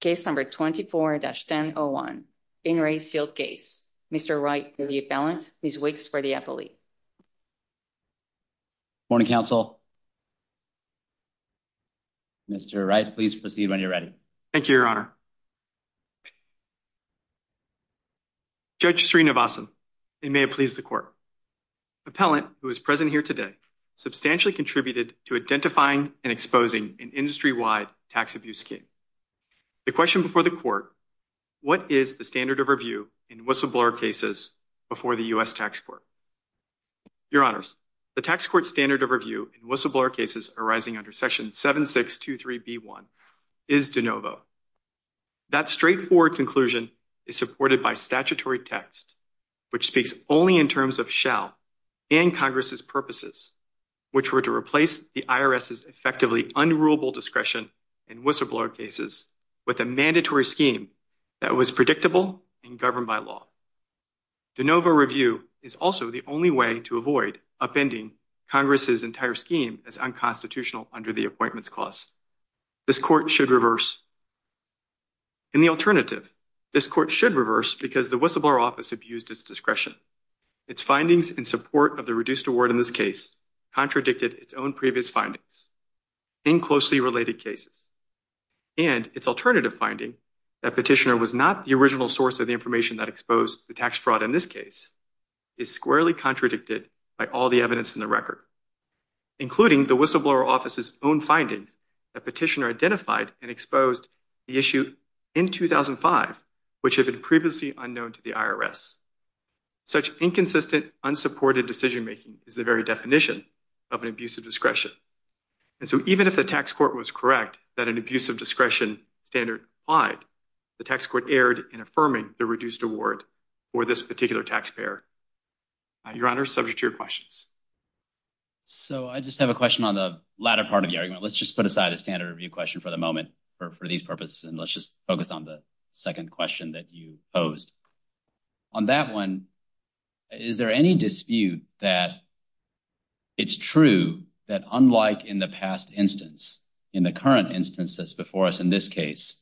Case number 24-101, In re Sealed Case. Mr. Wright for the appellant, Ms. Wicks for the appellee. Morning, counsel. Mr. Wright, please proceed when you're ready. Thank you, Your Honor. Judge Sreenivasan, it may have pleased the court. Appellant, who is present here today, substantially contributed to identifying and exposing an industry-wide tax abuse scheme. The question before the court, what is the standard of review in whistleblower cases before the U.S. Tax Court? Your Honors, the tax court standard of review in whistleblower cases arising under Section 7623B1 is de novo. That straightforward conclusion is supported by statutory text, which speaks only in terms of shall and Congress's purposes, which were to replace the IRS's effectively unrulable discretion in whistleblower cases with a mandatory scheme that was predictable and governed by law. De novo review is also the only way to avoid upending Congress's entire scheme as unconstitutional under the Appointments Clause. This court should reverse. In the alternative, this court should reverse because the whistleblower office abused its discretion. Its findings in support of the reduced award in this case contradicted its own previous findings in closely related cases. And its alternative finding, that petitioner was not the original source of the information that exposed the tax fraud in this case, is squarely contradicted by all the evidence in the record, including the whistleblower office's own findings that petitioner identified and exposed the issue in 2005, which had been previously unknown to the IRS. Such inconsistent, unsupported decision making is the very definition of an abuse of discretion. And so even if the tax court was correct that an abuse of discretion standard applied, the tax court erred in affirming the reduced award for this particular taxpayer. Your Honor, subject to your questions. So I just have a question on the latter part of the argument. Let's just put aside a standard review question for the moment for these purposes, and let's just focus on the second question that you posed on that one. Is there any dispute that it's true that unlike in the past instance, in the current instances before us in this case,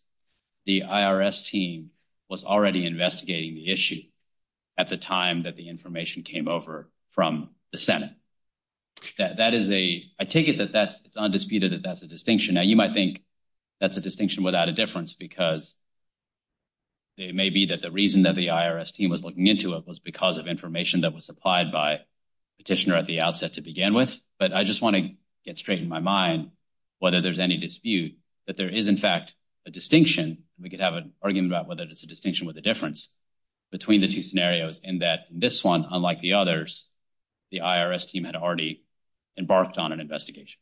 the IRS team was already investigating the issue at the time that the information came over from the Senate? I take it that it's undisputed that that's a distinction. Now, you might think that's a distinction without a difference because. It may be that the reason that the IRS team was looking into it was because of information that was supplied by petitioner at the outset to begin with. But I just want to get straight in my mind whether there's any dispute that there is, in fact, a distinction. We could have an argument about whether it's a distinction with the difference between the two scenarios and that this one, unlike the others, the IRS team had already embarked on an investigation.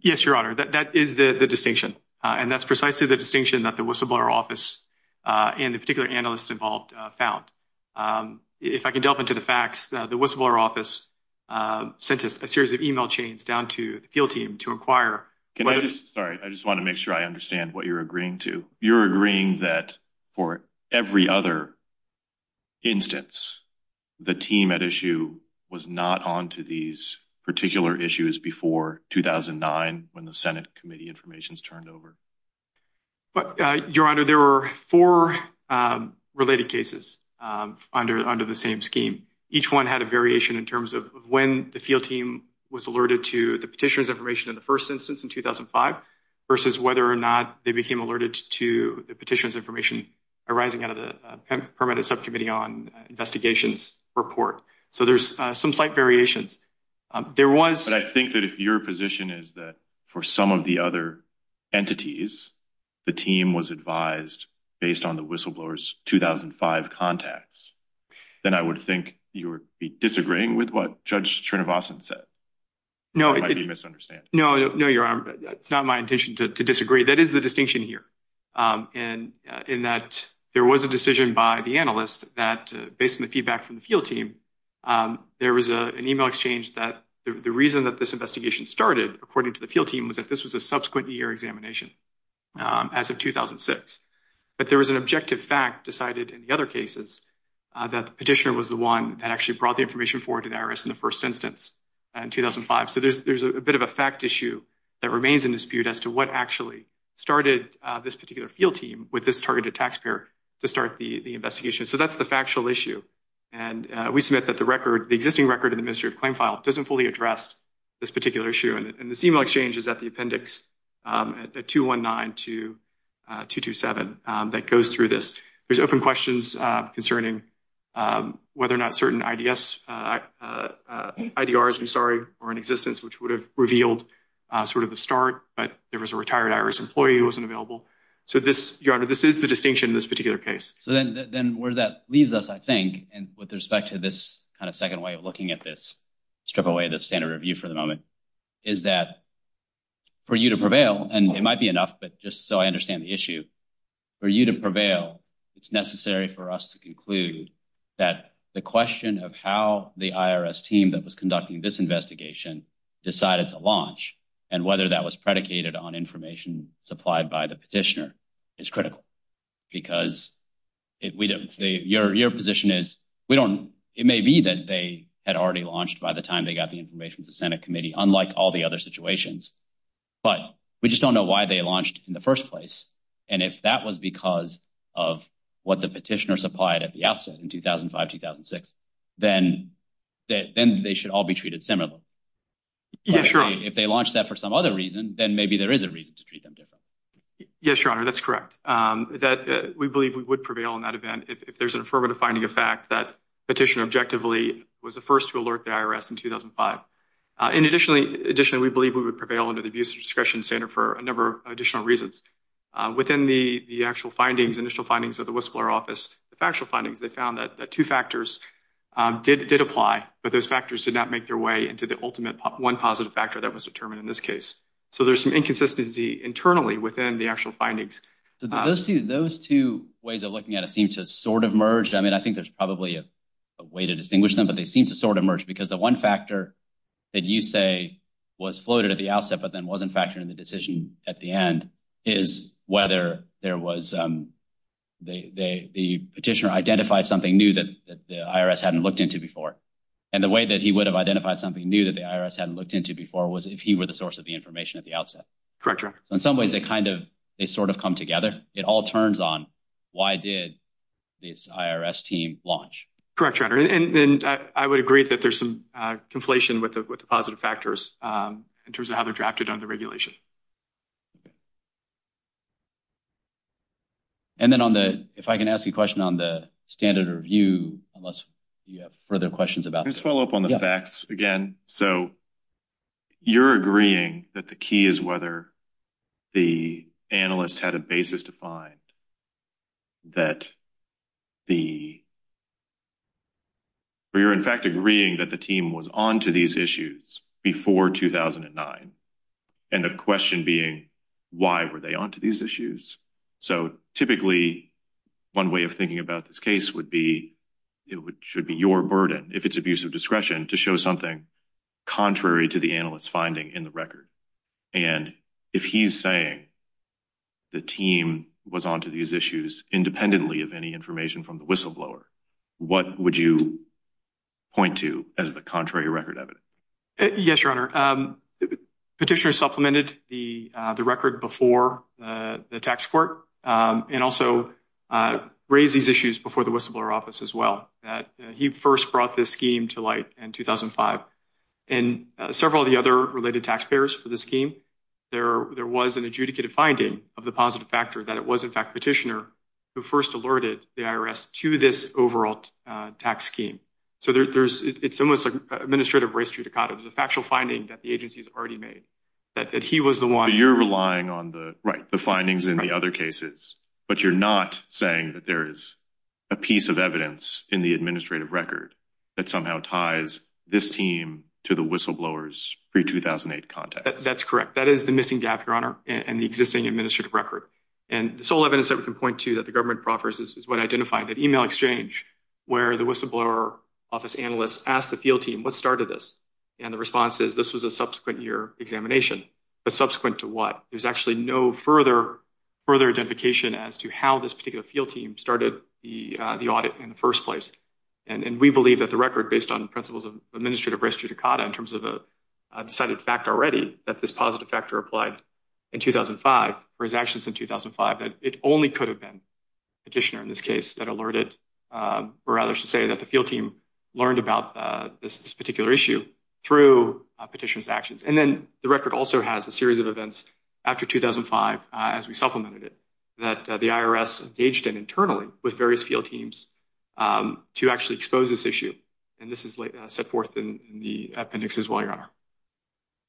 Yes, Your Honor, that is the distinction, and that's precisely the distinction that the whistleblower office and the particular analysts involved found. If I can delve into the facts, the whistleblower office sent us a series of email chains down to the field team to inquire. Can I just sorry, I just want to make sure I understand what you're agreeing to. When the Senate committee information is turned over. But, Your Honor, there were four related cases under under the same scheme. Each one had a variation in terms of when the field team was alerted to the petitioner's information in the first instance in 2005 versus whether or not they became alerted to the petitioner's information arising out of the permitted subcommittee on investigations report. So there's some slight variations. There was. But I think that if your position is that for some of the other entities, the team was advised based on the whistleblower's 2005 contacts, then I would think you would be disagreeing with what Judge Srinivasan said. No, it might be misunderstanding. No, no, Your Honor. It's not my intention to disagree. That is the distinction here. And in that there was a decision by the analyst that based on the feedback from the field team, there was an email exchange that the reason that this investigation started, according to the field team, was that this was a subsequent year examination as of 2006. But there was an objective fact decided in the other cases that the petitioner was the one that actually brought the information forward to the IRS in the first instance in 2005. So there's there's a bit of a fact issue that remains in dispute as to what actually started this particular field team with this targeted taxpayer to start the investigation. So that's the factual issue. And we submit that the record, the existing record in the mystery of claim file doesn't fully address this particular issue. And this email exchange is at the appendix at 219 to 227 that goes through this. There's open questions concerning whether or not certain ideas, IDRs, I'm sorry, or in existence, which would have revealed sort of the start. But there was a retired IRS employee who wasn't available. So this, Your Honor, this is the distinction in this particular case. So then where that leaves us, I think, and with respect to this kind of second way of looking at this, strip away the standard review for the moment, is that for you to prevail and it might be enough. But just so I understand the issue for you to prevail, it's necessary for us to conclude that the question of how the IRS team that was conducting this investigation decided to launch and whether that was predicated on information supplied by the petitioner is critical. Because if we don't say your position is we don't. It may be that they had already launched by the time they got the information to the Senate committee, unlike all the other situations. But we just don't know why they launched in the first place. And if that was because of what the petitioner supplied at the outset in 2005, 2006, then that then they should all be treated similarly. If they launched that for some other reason, then maybe there is a reason to treat them different. Yes, Your Honor, that's correct. That we believe we would prevail in that event if there's an affirmative finding of fact that petitioner objectively was the first to alert the IRS in 2005. In addition, we believe we would prevail under the abuse of discretion standard for a number of additional reasons. Within the actual findings, initial findings of the Whistler office, the factual findings, they found that two factors did apply, but those factors did not make their way into the ultimate one positive factor that was determined in this case. So there's some inconsistency internally within the actual findings. Those two ways of looking at it seem to sort of merge. I mean, I think there's probably a way to distinguish them, but they seem to sort of merge. Because the one factor that you say was floated at the outset but then wasn't factored in the decision at the end is whether there was the petitioner identified something new that the IRS hadn't looked into before. And the way that he would have identified something new that the IRS hadn't looked into before was if he were the source of the information at the outset. Correct. In some ways, they kind of they sort of come together. It all turns on why did this IRS team launch? Correct. And I would agree that there's some conflation with the positive factors in terms of how they're drafted under regulation. And then on the if I can ask you a question on the standard review, unless you have further questions about this follow up on the facts again. So you're agreeing that the key is whether the analyst had a basis to find that the – or you're in fact agreeing that the team was on to these issues before 2009. And the question being why were they on to these issues? So typically one way of thinking about this case would be it should be your burden if it's abuse of discretion to show something contrary to the analyst's finding in the record. And if he's saying the team was on to these issues independently of any information from the whistleblower, what would you point to as the contrary record evidence? Yes, Your Honor. Petitioner supplemented the record before the tax court and also raised these issues before the whistleblower office as well. That he first brought this scheme to light in 2005. And several of the other related taxpayers for the scheme, there was an adjudicated finding of the positive factor that it was in fact petitioner who first alerted the IRS to this overall tax scheme. So there's – it's almost like administrative race judicata. It's a factual finding that the agency's already made. That he was the one – So you're relying on the findings in the other cases, but you're not saying that there is a piece of evidence in the administrative record that somehow ties this team to the whistleblower's pre-2008 context. That's correct. That is the missing gap, Your Honor, in the existing administrative record. And the sole evidence that we can point to that the government proffers is what I identified, that email exchange where the whistleblower office analysts asked the field team, what started this? And the response is this was a subsequent year examination. But subsequent to what? There's actually no further identification as to how this particular field team started the audit in the first place. And we believe that the record based on principles of administrative race judicata in terms of a decided fact already that this positive factor applied in 2005 for his actions in 2005. That it only could have been petitioner in this case that alerted or rather should say that the field team learned about this particular issue through petitioner's actions. And then the record also has a series of events after 2005 as we supplemented it that the IRS engaged in internally with various field teams to actually expose this issue. And this is set forth in the appendix as well, Your Honor.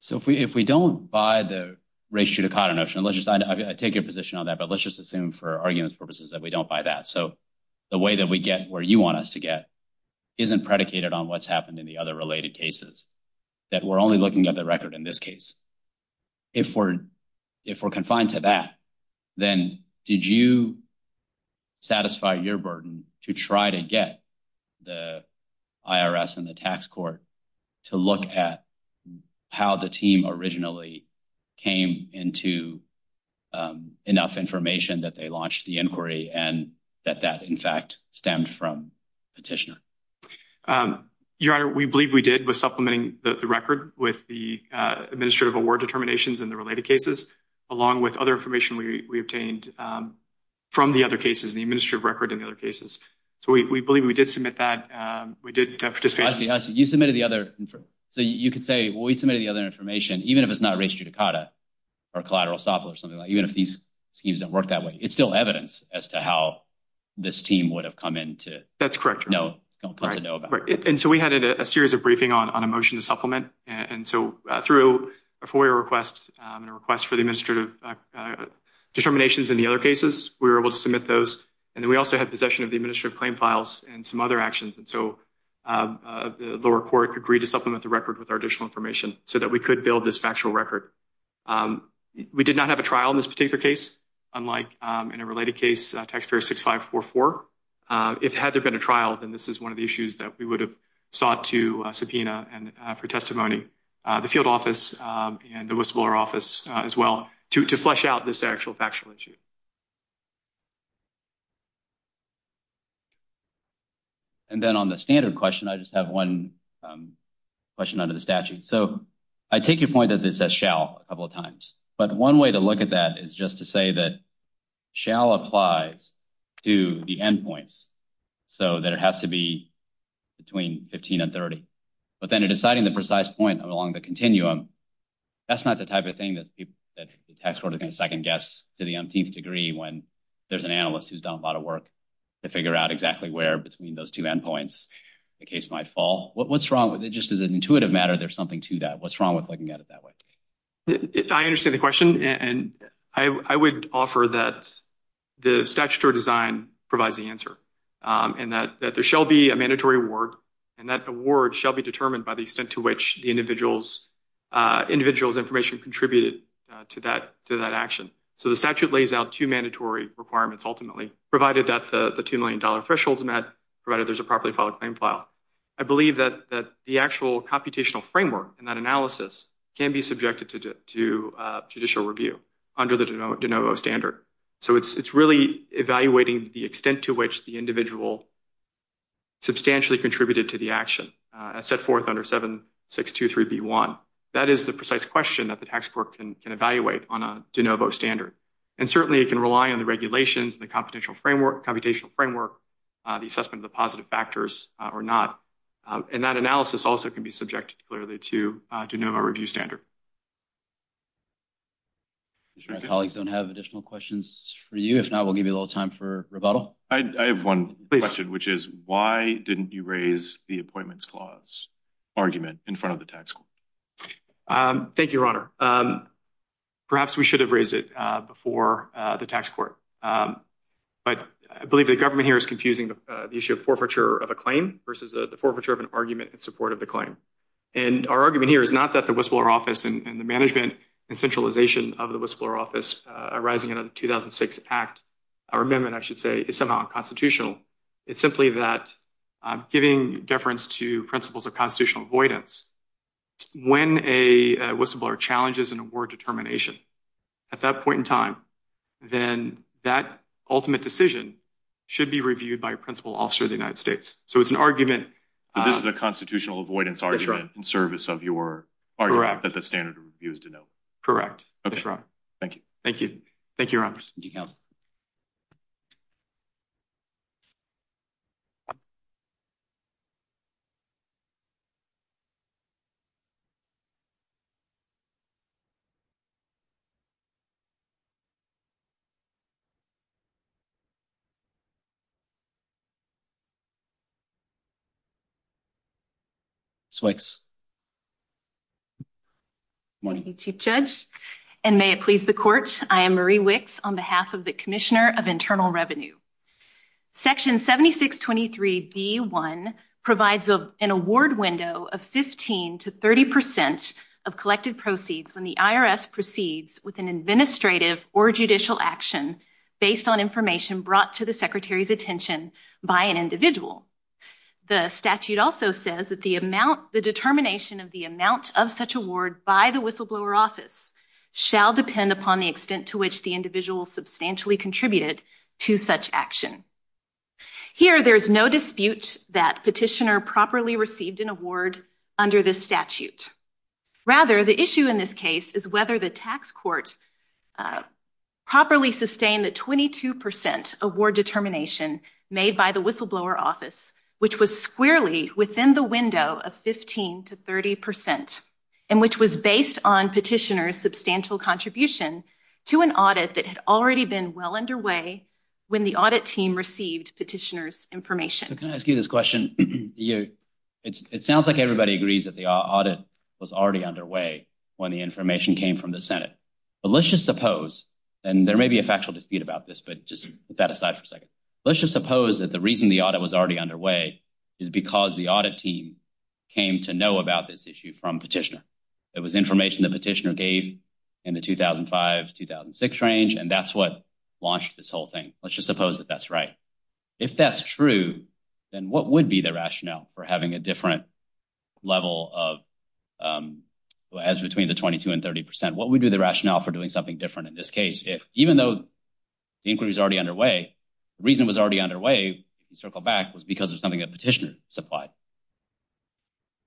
So if we if we don't buy the race judicata notion, let's just take a position on that. But let's just assume for arguments purposes that we don't buy that. So the way that we get where you want us to get isn't predicated on what's happened in the other related cases that we're only looking at the record in this case. If we're if we're confined to that, then did you satisfy your burden to try to get the IRS and the tax court to look at how the team originally came into enough information that they launched the inquiry and that that, in fact, stemmed from petitioner? Your Honor, we believe we did with supplementing the record with the administrative award determinations in the related cases, along with other information we obtained from the other cases, the administrative record and other cases. So we believe we did submit that. We did. You submitted the other. So you could say we submitted the other information, even if it's not race judicata or collateral or something like even if these schemes don't work that way. It's still evidence as to how this team would have come in to. That's correct. No, no. And so we had a series of briefing on a motion to supplement. And so through a FOIA request and a request for the administrative determinations in the other cases, we were able to submit those. And then we also had possession of the administrative claim files and some other actions. And so the lower court agreed to supplement the record with our additional information so that we could build this factual record. We did not have a trial in this particular case, unlike in a related case, taxpayer six, five, four, four. If had there been a trial, then this is one of the issues that we would have sought to subpoena and for testimony, the field office and the whistleblower office as well to flesh out this actual factual issue. And then on the standard question, I just have one question under the statute. So I take your point that this shall a couple of times. But one way to look at that is just to say that shall applies to the end points so that it has to be between fifteen and thirty. But then deciding the precise point along the continuum, that's not the type of thing that the tax court is going to second guess to the umpteenth degree when there's an analyst who's done a lot of work to figure out exactly where between those two end points the case might fall. What's wrong with it? Just as an intuitive matter, there's something to that. What's wrong with looking at it that way? I understand the question, and I would offer that the statutory design provides the answer and that there shall be a mandatory award. And that award shall be determined by the extent to which the individual's individual's information contributed to that to that action. So the statute lays out two mandatory requirements ultimately, provided that the two million dollar thresholds met, provided there's a properly filed claim file. I believe that the actual computational framework and that analysis can be subjected to judicial review under the DeNovo standard. So it's really evaluating the extent to which the individual substantially contributed to the action set forth under 7623B1. That is the precise question that the tax court can evaluate on a DeNovo standard. And certainly it can rely on the regulations, the computational framework, the assessment of the positive factors or not. And that analysis also can be subjected clearly to DeNovo review standard. My colleagues don't have additional questions for you. If not, we'll give you a little time for rebuttal. I have one question, which is why didn't you raise the appointments clause argument in front of the tax court? Thank you, Your Honor. Perhaps we should have raised it before the tax court. But I believe the government here is confusing the issue of forfeiture of a claim versus the forfeiture of an argument in support of the claim. And our argument here is not that the Whistleblower Office and the management and centralization of the Whistleblower Office arising out of the 2006 Act or Amendment, I should say, is somehow unconstitutional. It's simply that I'm giving deference to principles of constitutional avoidance. When a whistleblower challenges an award determination at that point in time, then that ultimate decision should be reviewed by a principal officer of the United States. So it's an argument. This is a constitutional avoidance argument in service of your argument that the standard review is DeNovo. Correct. That's right. Thank you. Thank you. Thank you, Your Honor. Thanks, Wicks. Thank you, Chief Judge. And may it please the court, I am Marie Wicks on behalf of the Commissioner of Internal Revenue. Section 7623B1 provides an award window of 15 to 30 percent of collected proceeds when the IRS proceeds with an administrative or judicial action based on information brought to the Secretary's attention by an individual. The statute also says that the amount the determination of the amount of such award by the Whistleblower Office shall depend upon the extent to which the individual substantially contributed to such action. Here, there is no dispute that petitioner properly received an award under this statute. Rather, the issue in this case is whether the tax court properly sustained the 22 percent award determination made by the Whistleblower Office, which was squarely within the window of 15 to 30 percent, and which was based on petitioner's substantial contribution to an audit that had already been well underway when the audit team received petitioner's information. So can I ask you this question? It sounds like everybody agrees that the audit was already underway when the information came from the Senate. But let's just suppose, and there may be a factual dispute about this, but just put that aside for a second. Let's just suppose that the reason the audit was already underway is because the audit team came to know about this issue from petitioner. It was information the petitioner gave in the 2005, 2006 range, and that's what launched this whole thing. Let's just suppose that that's right. If that's true, then what would be the rationale for having a different level of, as between the 22 and 30 percent, what would be the rationale for doing something different in this case? Even though the inquiry is already underway, the reason it was already underway, circle back, was because of something that petitioner supplied.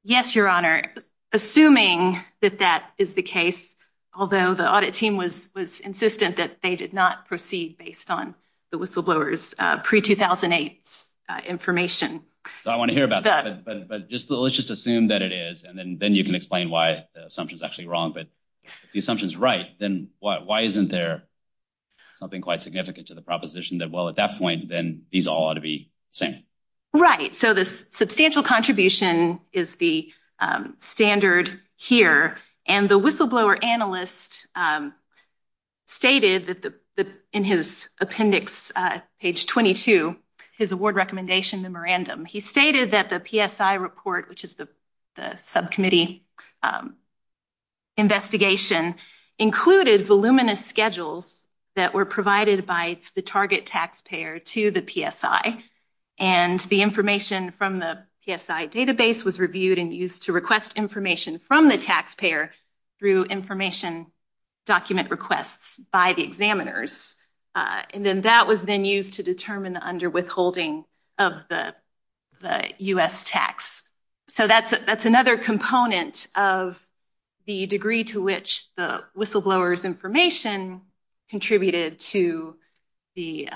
Yes, Your Honor. Assuming that that is the case, although the audit team was insistent that they did not proceed based on the whistleblower's pre-2008 information. I want to hear about that, but let's just assume that it is, and then you can explain why the assumption is actually wrong. But if the assumption is right, then why isn't there something quite significant to the proposition that, well, at that point, then these all ought to be the same? Right, so the substantial contribution is the standard here, and the whistleblower analyst stated in his appendix, page 22, his award recommendation memorandum. He stated that the PSI report, which is the subcommittee investigation, included voluminous schedules that were provided by the target taxpayer to the PSI, and the information from the PSI database was reviewed and used to request information from the taxpayer through information document requests by the examiners. And then that was then used to determine the underwithholding of the U.S. tax. So that's another component of the degree to which the whistleblower's information contributed to the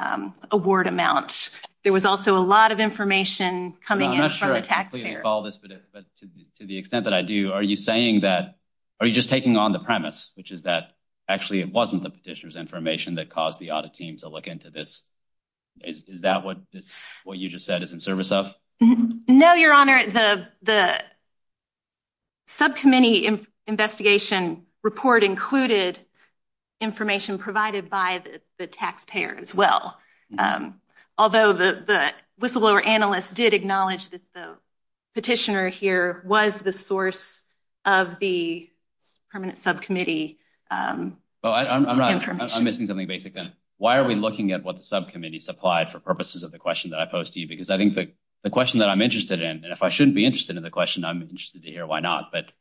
award amount. There was also a lot of information coming in from the taxpayer. To the extent that I do, are you saying that, are you just taking on the premise, which is that actually it wasn't the petitioner's information that caused the audit team to look into this? Is that what you just said is in service of? No, Your Honor, the subcommittee investigation report included information provided by the taxpayer as well. Although the whistleblower analyst did acknowledge that the petitioner here was the source of the permanent subcommittee information. I'm missing something basic then. Why are we looking at what the subcommittee supplied for purposes of the question that I posed to you? Because I think that the question that I'm interested in, and if I shouldn't be interested in the question, I'm interested to hear why not. But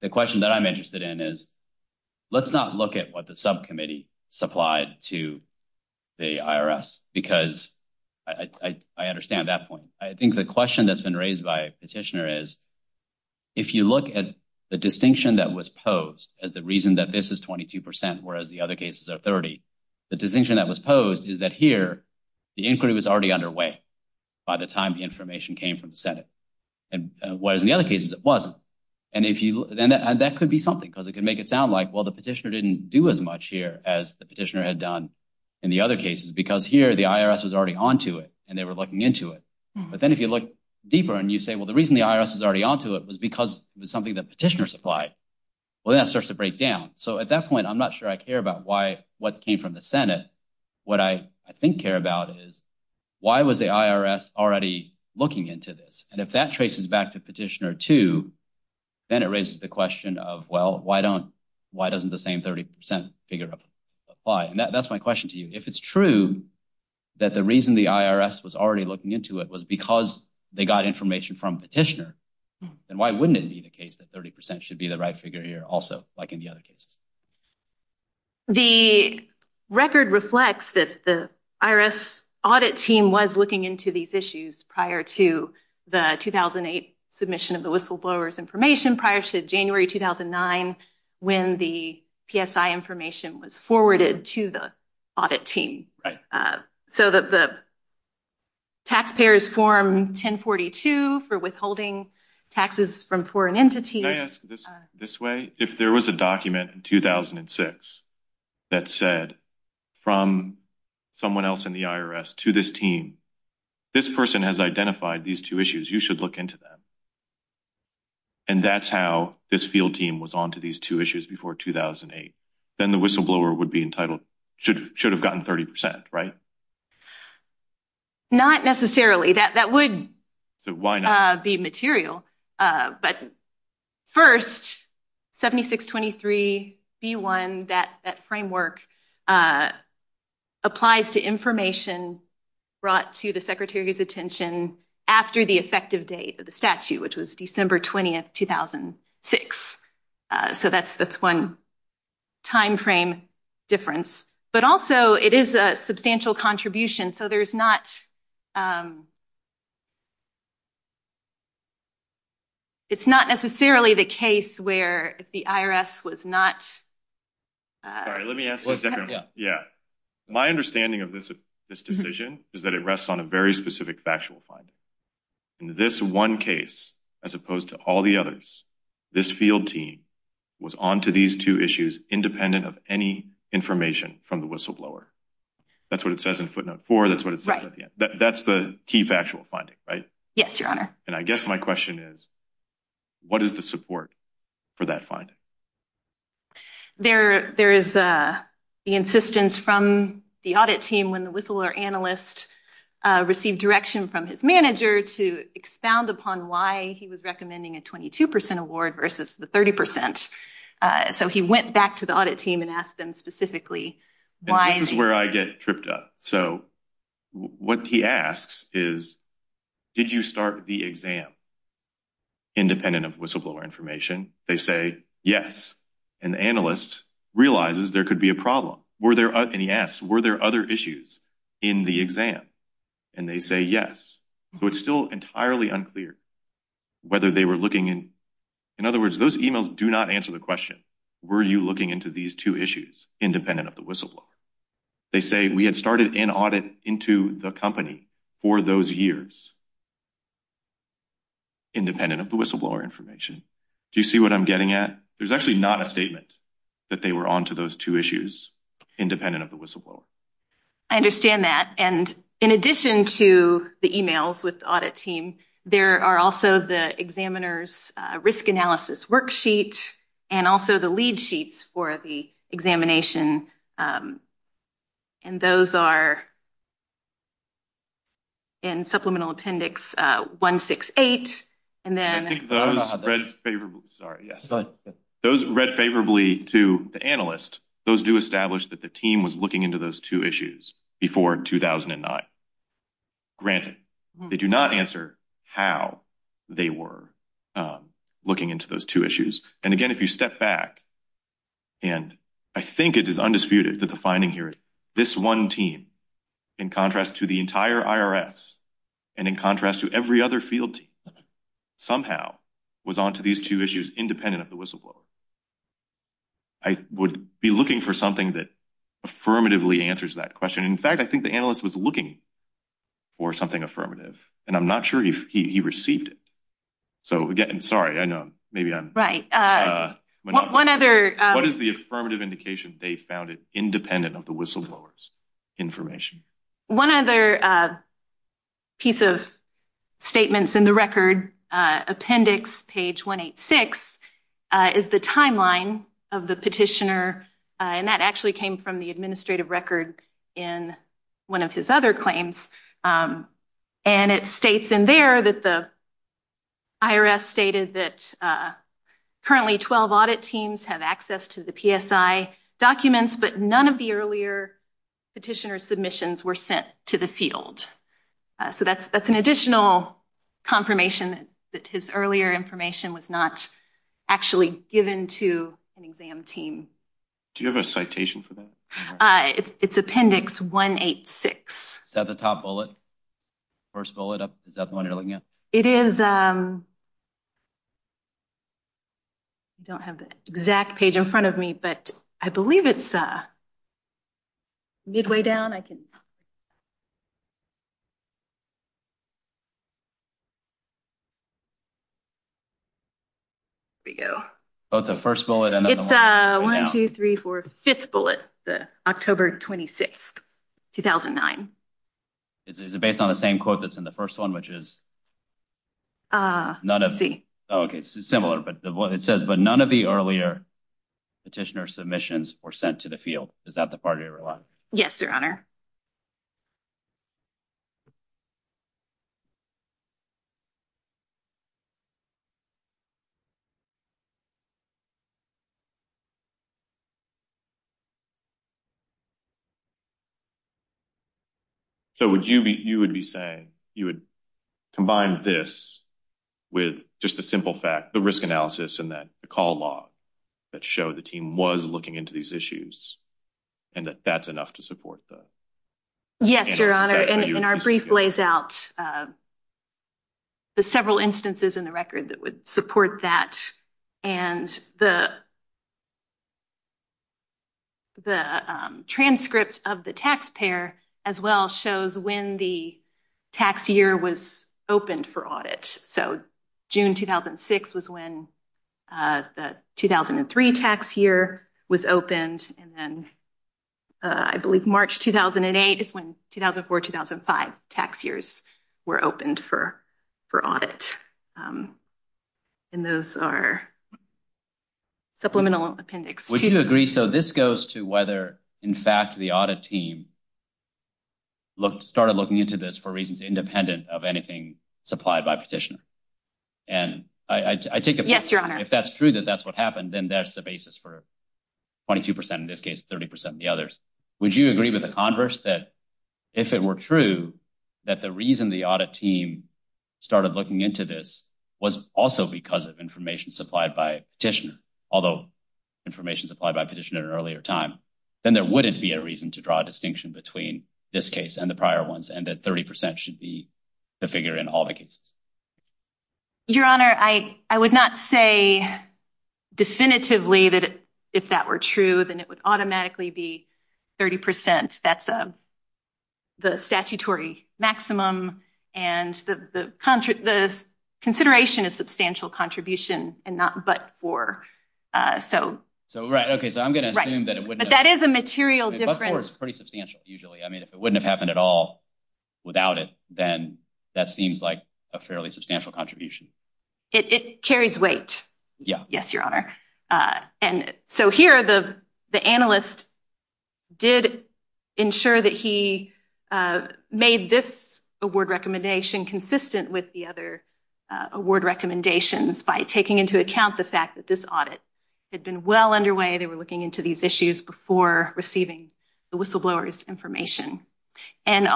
the question that I'm interested in is, let's not look at what the subcommittee supplied to the IRS. Because I understand that point. I think the question that's been raised by petitioner is, if you look at the distinction that was posed as the reason that this is 22%, whereas the other cases are 30. The distinction that was posed is that here, the inquiry was already underway by the time the information came from the Senate. And whereas in the other cases it wasn't. And that could be something, because it could make it sound like, well, the petitioner didn't do as much here as the petitioner had done in the other cases, because here the IRS was already onto it and they were looking into it. But then if you look deeper and you say, well, the reason the IRS is already onto it was because it was something that petitioner supplied. Well, that starts to break down. So at that point, I'm not sure I care about what came from the Senate. What I think care about is, why was the IRS already looking into this? And if that traces back to petitioner two, then it raises the question of, well, why doesn't the same 30% figure apply? And that's my question to you. If it's true that the reason the IRS was already looking into it was because they got information from petitioner, then why wouldn't it be the case that 30% should be the right figure here also, like in the other cases? The record reflects that the IRS audit team was looking into these issues prior to the 2008 submission of the whistleblower's information, prior to January 2009, when the PSI information was forwarded to the audit team. So the taxpayers form 1042 for withholding taxes from foreign entities. Can I ask this way? If there was a document in 2006 that said, from someone else in the IRS to this team, this person has identified these two issues. You should look into them. And that's how this field team was onto these two issues before 2008. Then the whistleblower would be entitled, should have gotten 30%, right? Not necessarily. That would be material. But first, 7623B1, that framework applies to information brought to the secretary's attention after the effective date of the statute, which was December 20, 2006. So that's one time frame difference. But also, it is a substantial contribution. So there's not... It's not necessarily the case where the IRS was not... Sorry, let me ask you a different one. Yeah. My understanding of this decision is that it rests on a very specific factual finding. In this one case, as opposed to all the others, this field team was onto these two issues independent of any information from the whistleblower. That's what it says in footnote four. That's what it says at the end. That's the key factual finding, right? Yes, Your Honor. And I guess my question is, what is the support for that finding? There is the insistence from the audit team when the whistleblower analyst received direction from his manager to expound upon why he was recommending a 22% award versus the 30%. So he went back to the audit team and asked them specifically why... This is where I get tripped up. So what he asks is, did you start the exam independent of whistleblower information? They say, yes. And the analyst realizes there could be a problem. And he asks, were there other issues in the exam? And they say, yes. So it's still entirely unclear whether they were looking in... In other words, those emails do not answer the question, were you looking into these two issues independent of the whistleblower? They say, we had started an audit into the company for those years independent of the whistleblower information. Do you see what I'm getting at? There's actually not a statement that they were onto those two issues independent of the whistleblower. I understand that. And in addition to the emails with the audit team, there are also the examiner's risk analysis worksheet and also the lead sheets for the examination. And those are in Supplemental Appendix 168. Those read favorably to the analyst, those do establish that the team was looking into those two issues before 2009. Granted, they do not answer how they were looking into those two issues. And again, if you step back, and I think it is undisputed that the finding here is this one team, in contrast to the entire IRS, and in contrast to every other field team, somehow was onto these two issues independent of the whistleblower. I would be looking for something that affirmatively answers that question. In fact, I think the analyst was looking for something affirmative. And I'm not sure he received it. So again, I'm sorry. I know maybe I'm... One other... What is the affirmative indication they found it independent of the whistleblower's information? One other piece of statements in the record, Appendix page 186, is the timeline of the petitioner. And that actually came from the administrative record in one of his other claims. And it states in there that the IRS stated that currently 12 audit teams have access to the PSI documents, but none of the earlier petitioner's submissions were sent to the field. So that's an additional confirmation that his earlier information was not actually given to an exam team. Do you have a citation for that? It's Appendix 186. Is that the top bullet? First bullet up? Is that the one you're looking at? It is. I don't have the exact page in front of me, but I believe it's midway down. I can... Here we go. Oh, it's the first bullet and then the one right now. It's 1, 2, 3, 4, 5th bullet, October 26th, 2009. Is it based on the same quote that's in the first one, which is... Let's see. Okay, it's similar. It says, but none of the earlier petitioner's submissions were sent to the field. Is that the part you're relying on? Yes, Your Honor. So would you be... You would be saying you would combine this with just the simple fact, the risk analysis and the call log that show the team was looking into these issues and that that's enough to support the... Yes, Your Honor. And our brief lays out the several instances in the record that would support that and the transcript of the taxpayer as well shows when the tax year was opened for audit. So June 2006 was when the 2003 tax year was opened, and then I believe March 2008 is when 2004-2005 tax years were opened for audit. And those are supplemental appendix. Would you agree... So this goes to whether, in fact, the audit team started looking into this for reasons independent of anything supplied by petitioner. And I take it... Yes, Your Honor. If that's true that that's what happened, then that's the basis for 22%, in this case, 30% of the others. Would you agree with the converse that if it were true that the reason the audit team started looking into this was also because of information supplied by petitioner, although information supplied by petitioner at an earlier time, then there wouldn't be a reason to draw a distinction between this case and the prior ones and that 30% should be the figure in all the cases? Your Honor, I would not say definitively that if that were true, then it would automatically be 30%. That's the statutory maximum. And the consideration is substantial contribution and not but-for. So I'm going to assume that it wouldn't have... But that is a material difference. But-for is pretty substantial, usually. I mean, if it wouldn't have happened at all without it, then that seems like a fairly substantial contribution. It carries weight. Yes, Your Honor. And so here the analyst did ensure that he made this award recommendation consistent with the other award recommendations by taking into account the fact that this audit had been well underway. They were looking into these issues before receiving the whistleblower's information. And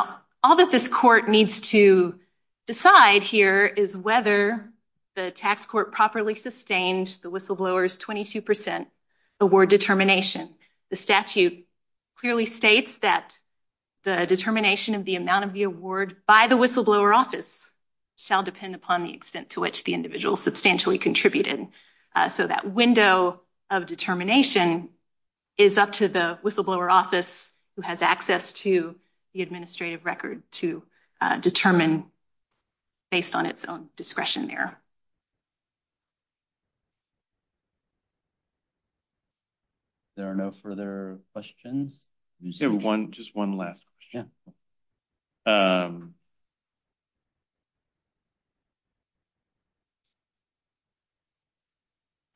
all that this court needs to decide here is whether the tax court properly sustained the whistleblower's 22% award determination. The statute clearly states that the determination of the amount of the award by the whistleblower office shall depend upon the extent to which the individual substantially contributed. So that window of determination is up to the whistleblower office who has access to the administrative record to determine based on its own discretion there. There are no further questions? Just one last question.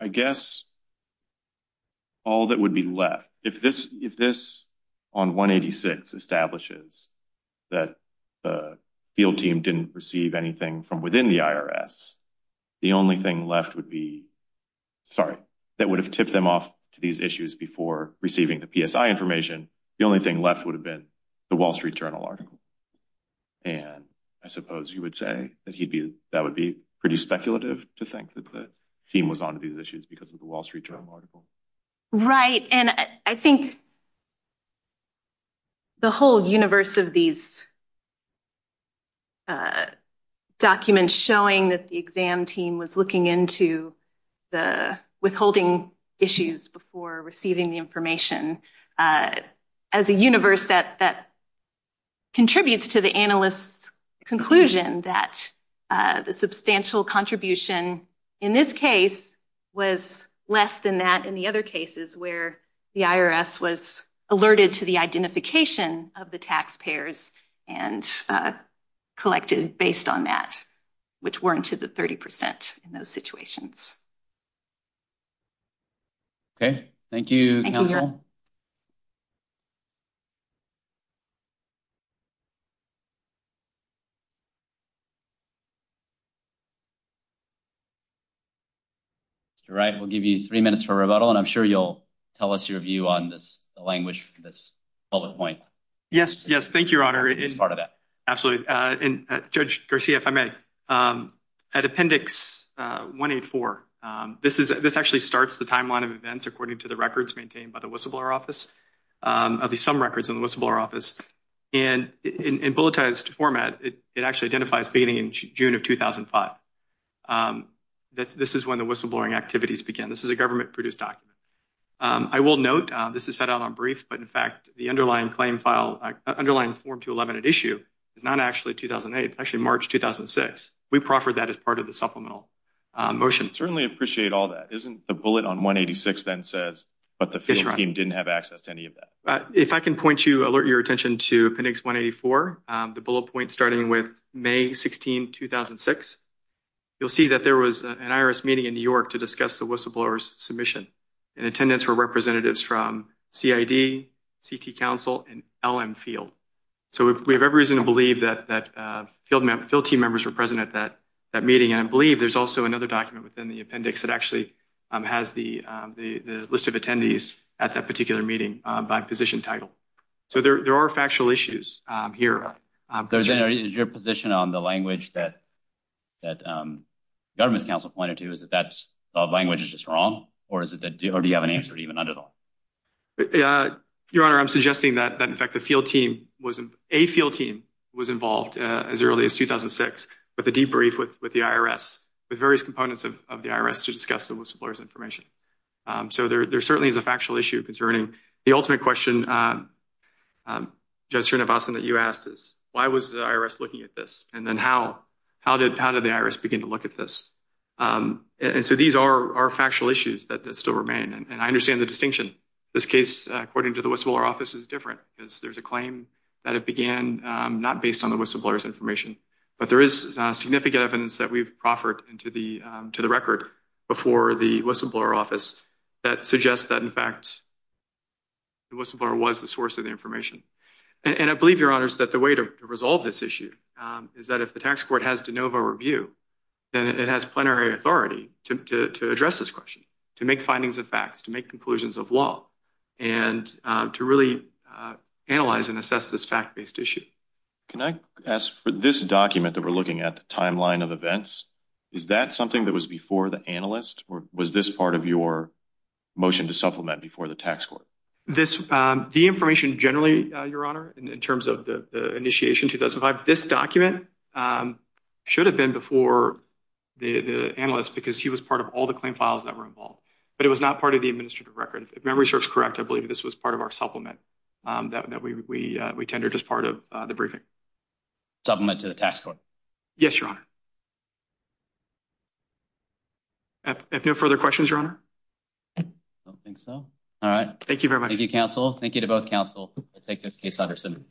I guess all that would be left. If this on 186 establishes that the field team didn't receive anything from within the IRS, the only thing left would be, sorry, that would have tipped them off to these issues before receiving the PSI information. The only thing left would have been the Wall Street Journal article. And I suppose you would say that that would be pretty speculative to think that the team was on to these issues because of the Wall Street Journal article. Right, and I think the whole universe of these documents showing that the exam team was looking into the withholding issues before receiving the information as a universe that contributes to the analyst's conclusion that the substantial contribution in this case was less than that in the other cases where the IRS was alerted to the identification of the taxpayers and collected based on that, which weren't to the 30% in those situations. Okay, thank you, counsel. Mr. Wright, we'll give you three minutes for rebuttal, and I'm sure you'll tell us your view on this language, this bullet point. Yes, yes, thank you, Your Honor. It's part of that. Absolutely. And Judge Garcia, if I may, at Appendix 184, this actually starts the timeline of events according to the records maintained by the whistleblower office, at least some records in the whistleblower office. And in bulletized format, it actually identifies beginning in June of 2005. This is when the whistleblowing activities begin. This is a government-produced document. I will note this is set out on brief, but, in fact, the underlying claim file, underlying Form 211 at issue is not actually 2008. It's actually March 2006. We proffered that as part of the supplemental motion. I certainly appreciate all that. Isn't the bullet on 186 then says, but the field team didn't have access to any of that? If I can point you, alert your attention to Appendix 184, the bullet point starting with May 16, 2006. You'll see that there was an IRS meeting in New York to discuss the whistleblower's submission and attendance for representatives from CID, CT Council, and LM Field. So we have every reason to believe that field team members were present at that meeting, and I believe there's also another document within the appendix that actually has the list of attendees at that particular meeting by position title. So there are factual issues here. Is your position on the language that the government's counsel pointed to, is that that language is just wrong, or do you have an answer to even that at all? Your Honor, I'm suggesting that, in fact, a field team was involved as early as 2006 with a debrief with the IRS with various components of the IRS to discuss the whistleblower's information. So there certainly is a factual issue concerning. The ultimate question, Judge Srinivasan, that you asked is, why was the IRS looking at this, and then how did the IRS begin to look at this? And so these are factual issues that still remain, and I understand the distinction. This case, according to the whistleblower office, is different, because there's a claim that it began not based on the whistleblower's information, but there is significant evidence that we've proffered to the record before the whistleblower office that suggests that, in fact, the whistleblower was the source of the information. And I believe, Your Honors, that the way to resolve this issue is that if the tax court has de novo review, then it has plenary authority to address this question, to make findings of facts, to make conclusions of law, and to really analyze and assess this fact-based issue. Can I ask, for this document that we're looking at, the timeline of events, is that something that was before the analyst, or was this part of your motion to supplement before the tax court? The information generally, Your Honor, in terms of the initiation in 2005, this document should have been before the analyst because he was part of all the claim files that were involved, but it was not part of the administrative record. If my research is correct, I believe this was part of our supplement that we tendered as part of the briefing. Supplement to the tax court? Yes, Your Honor. If no further questions, Your Honor. I don't think so. All right. Thank you very much. Thank you, counsel. Thank you to both counsel. I take this case, Utterson.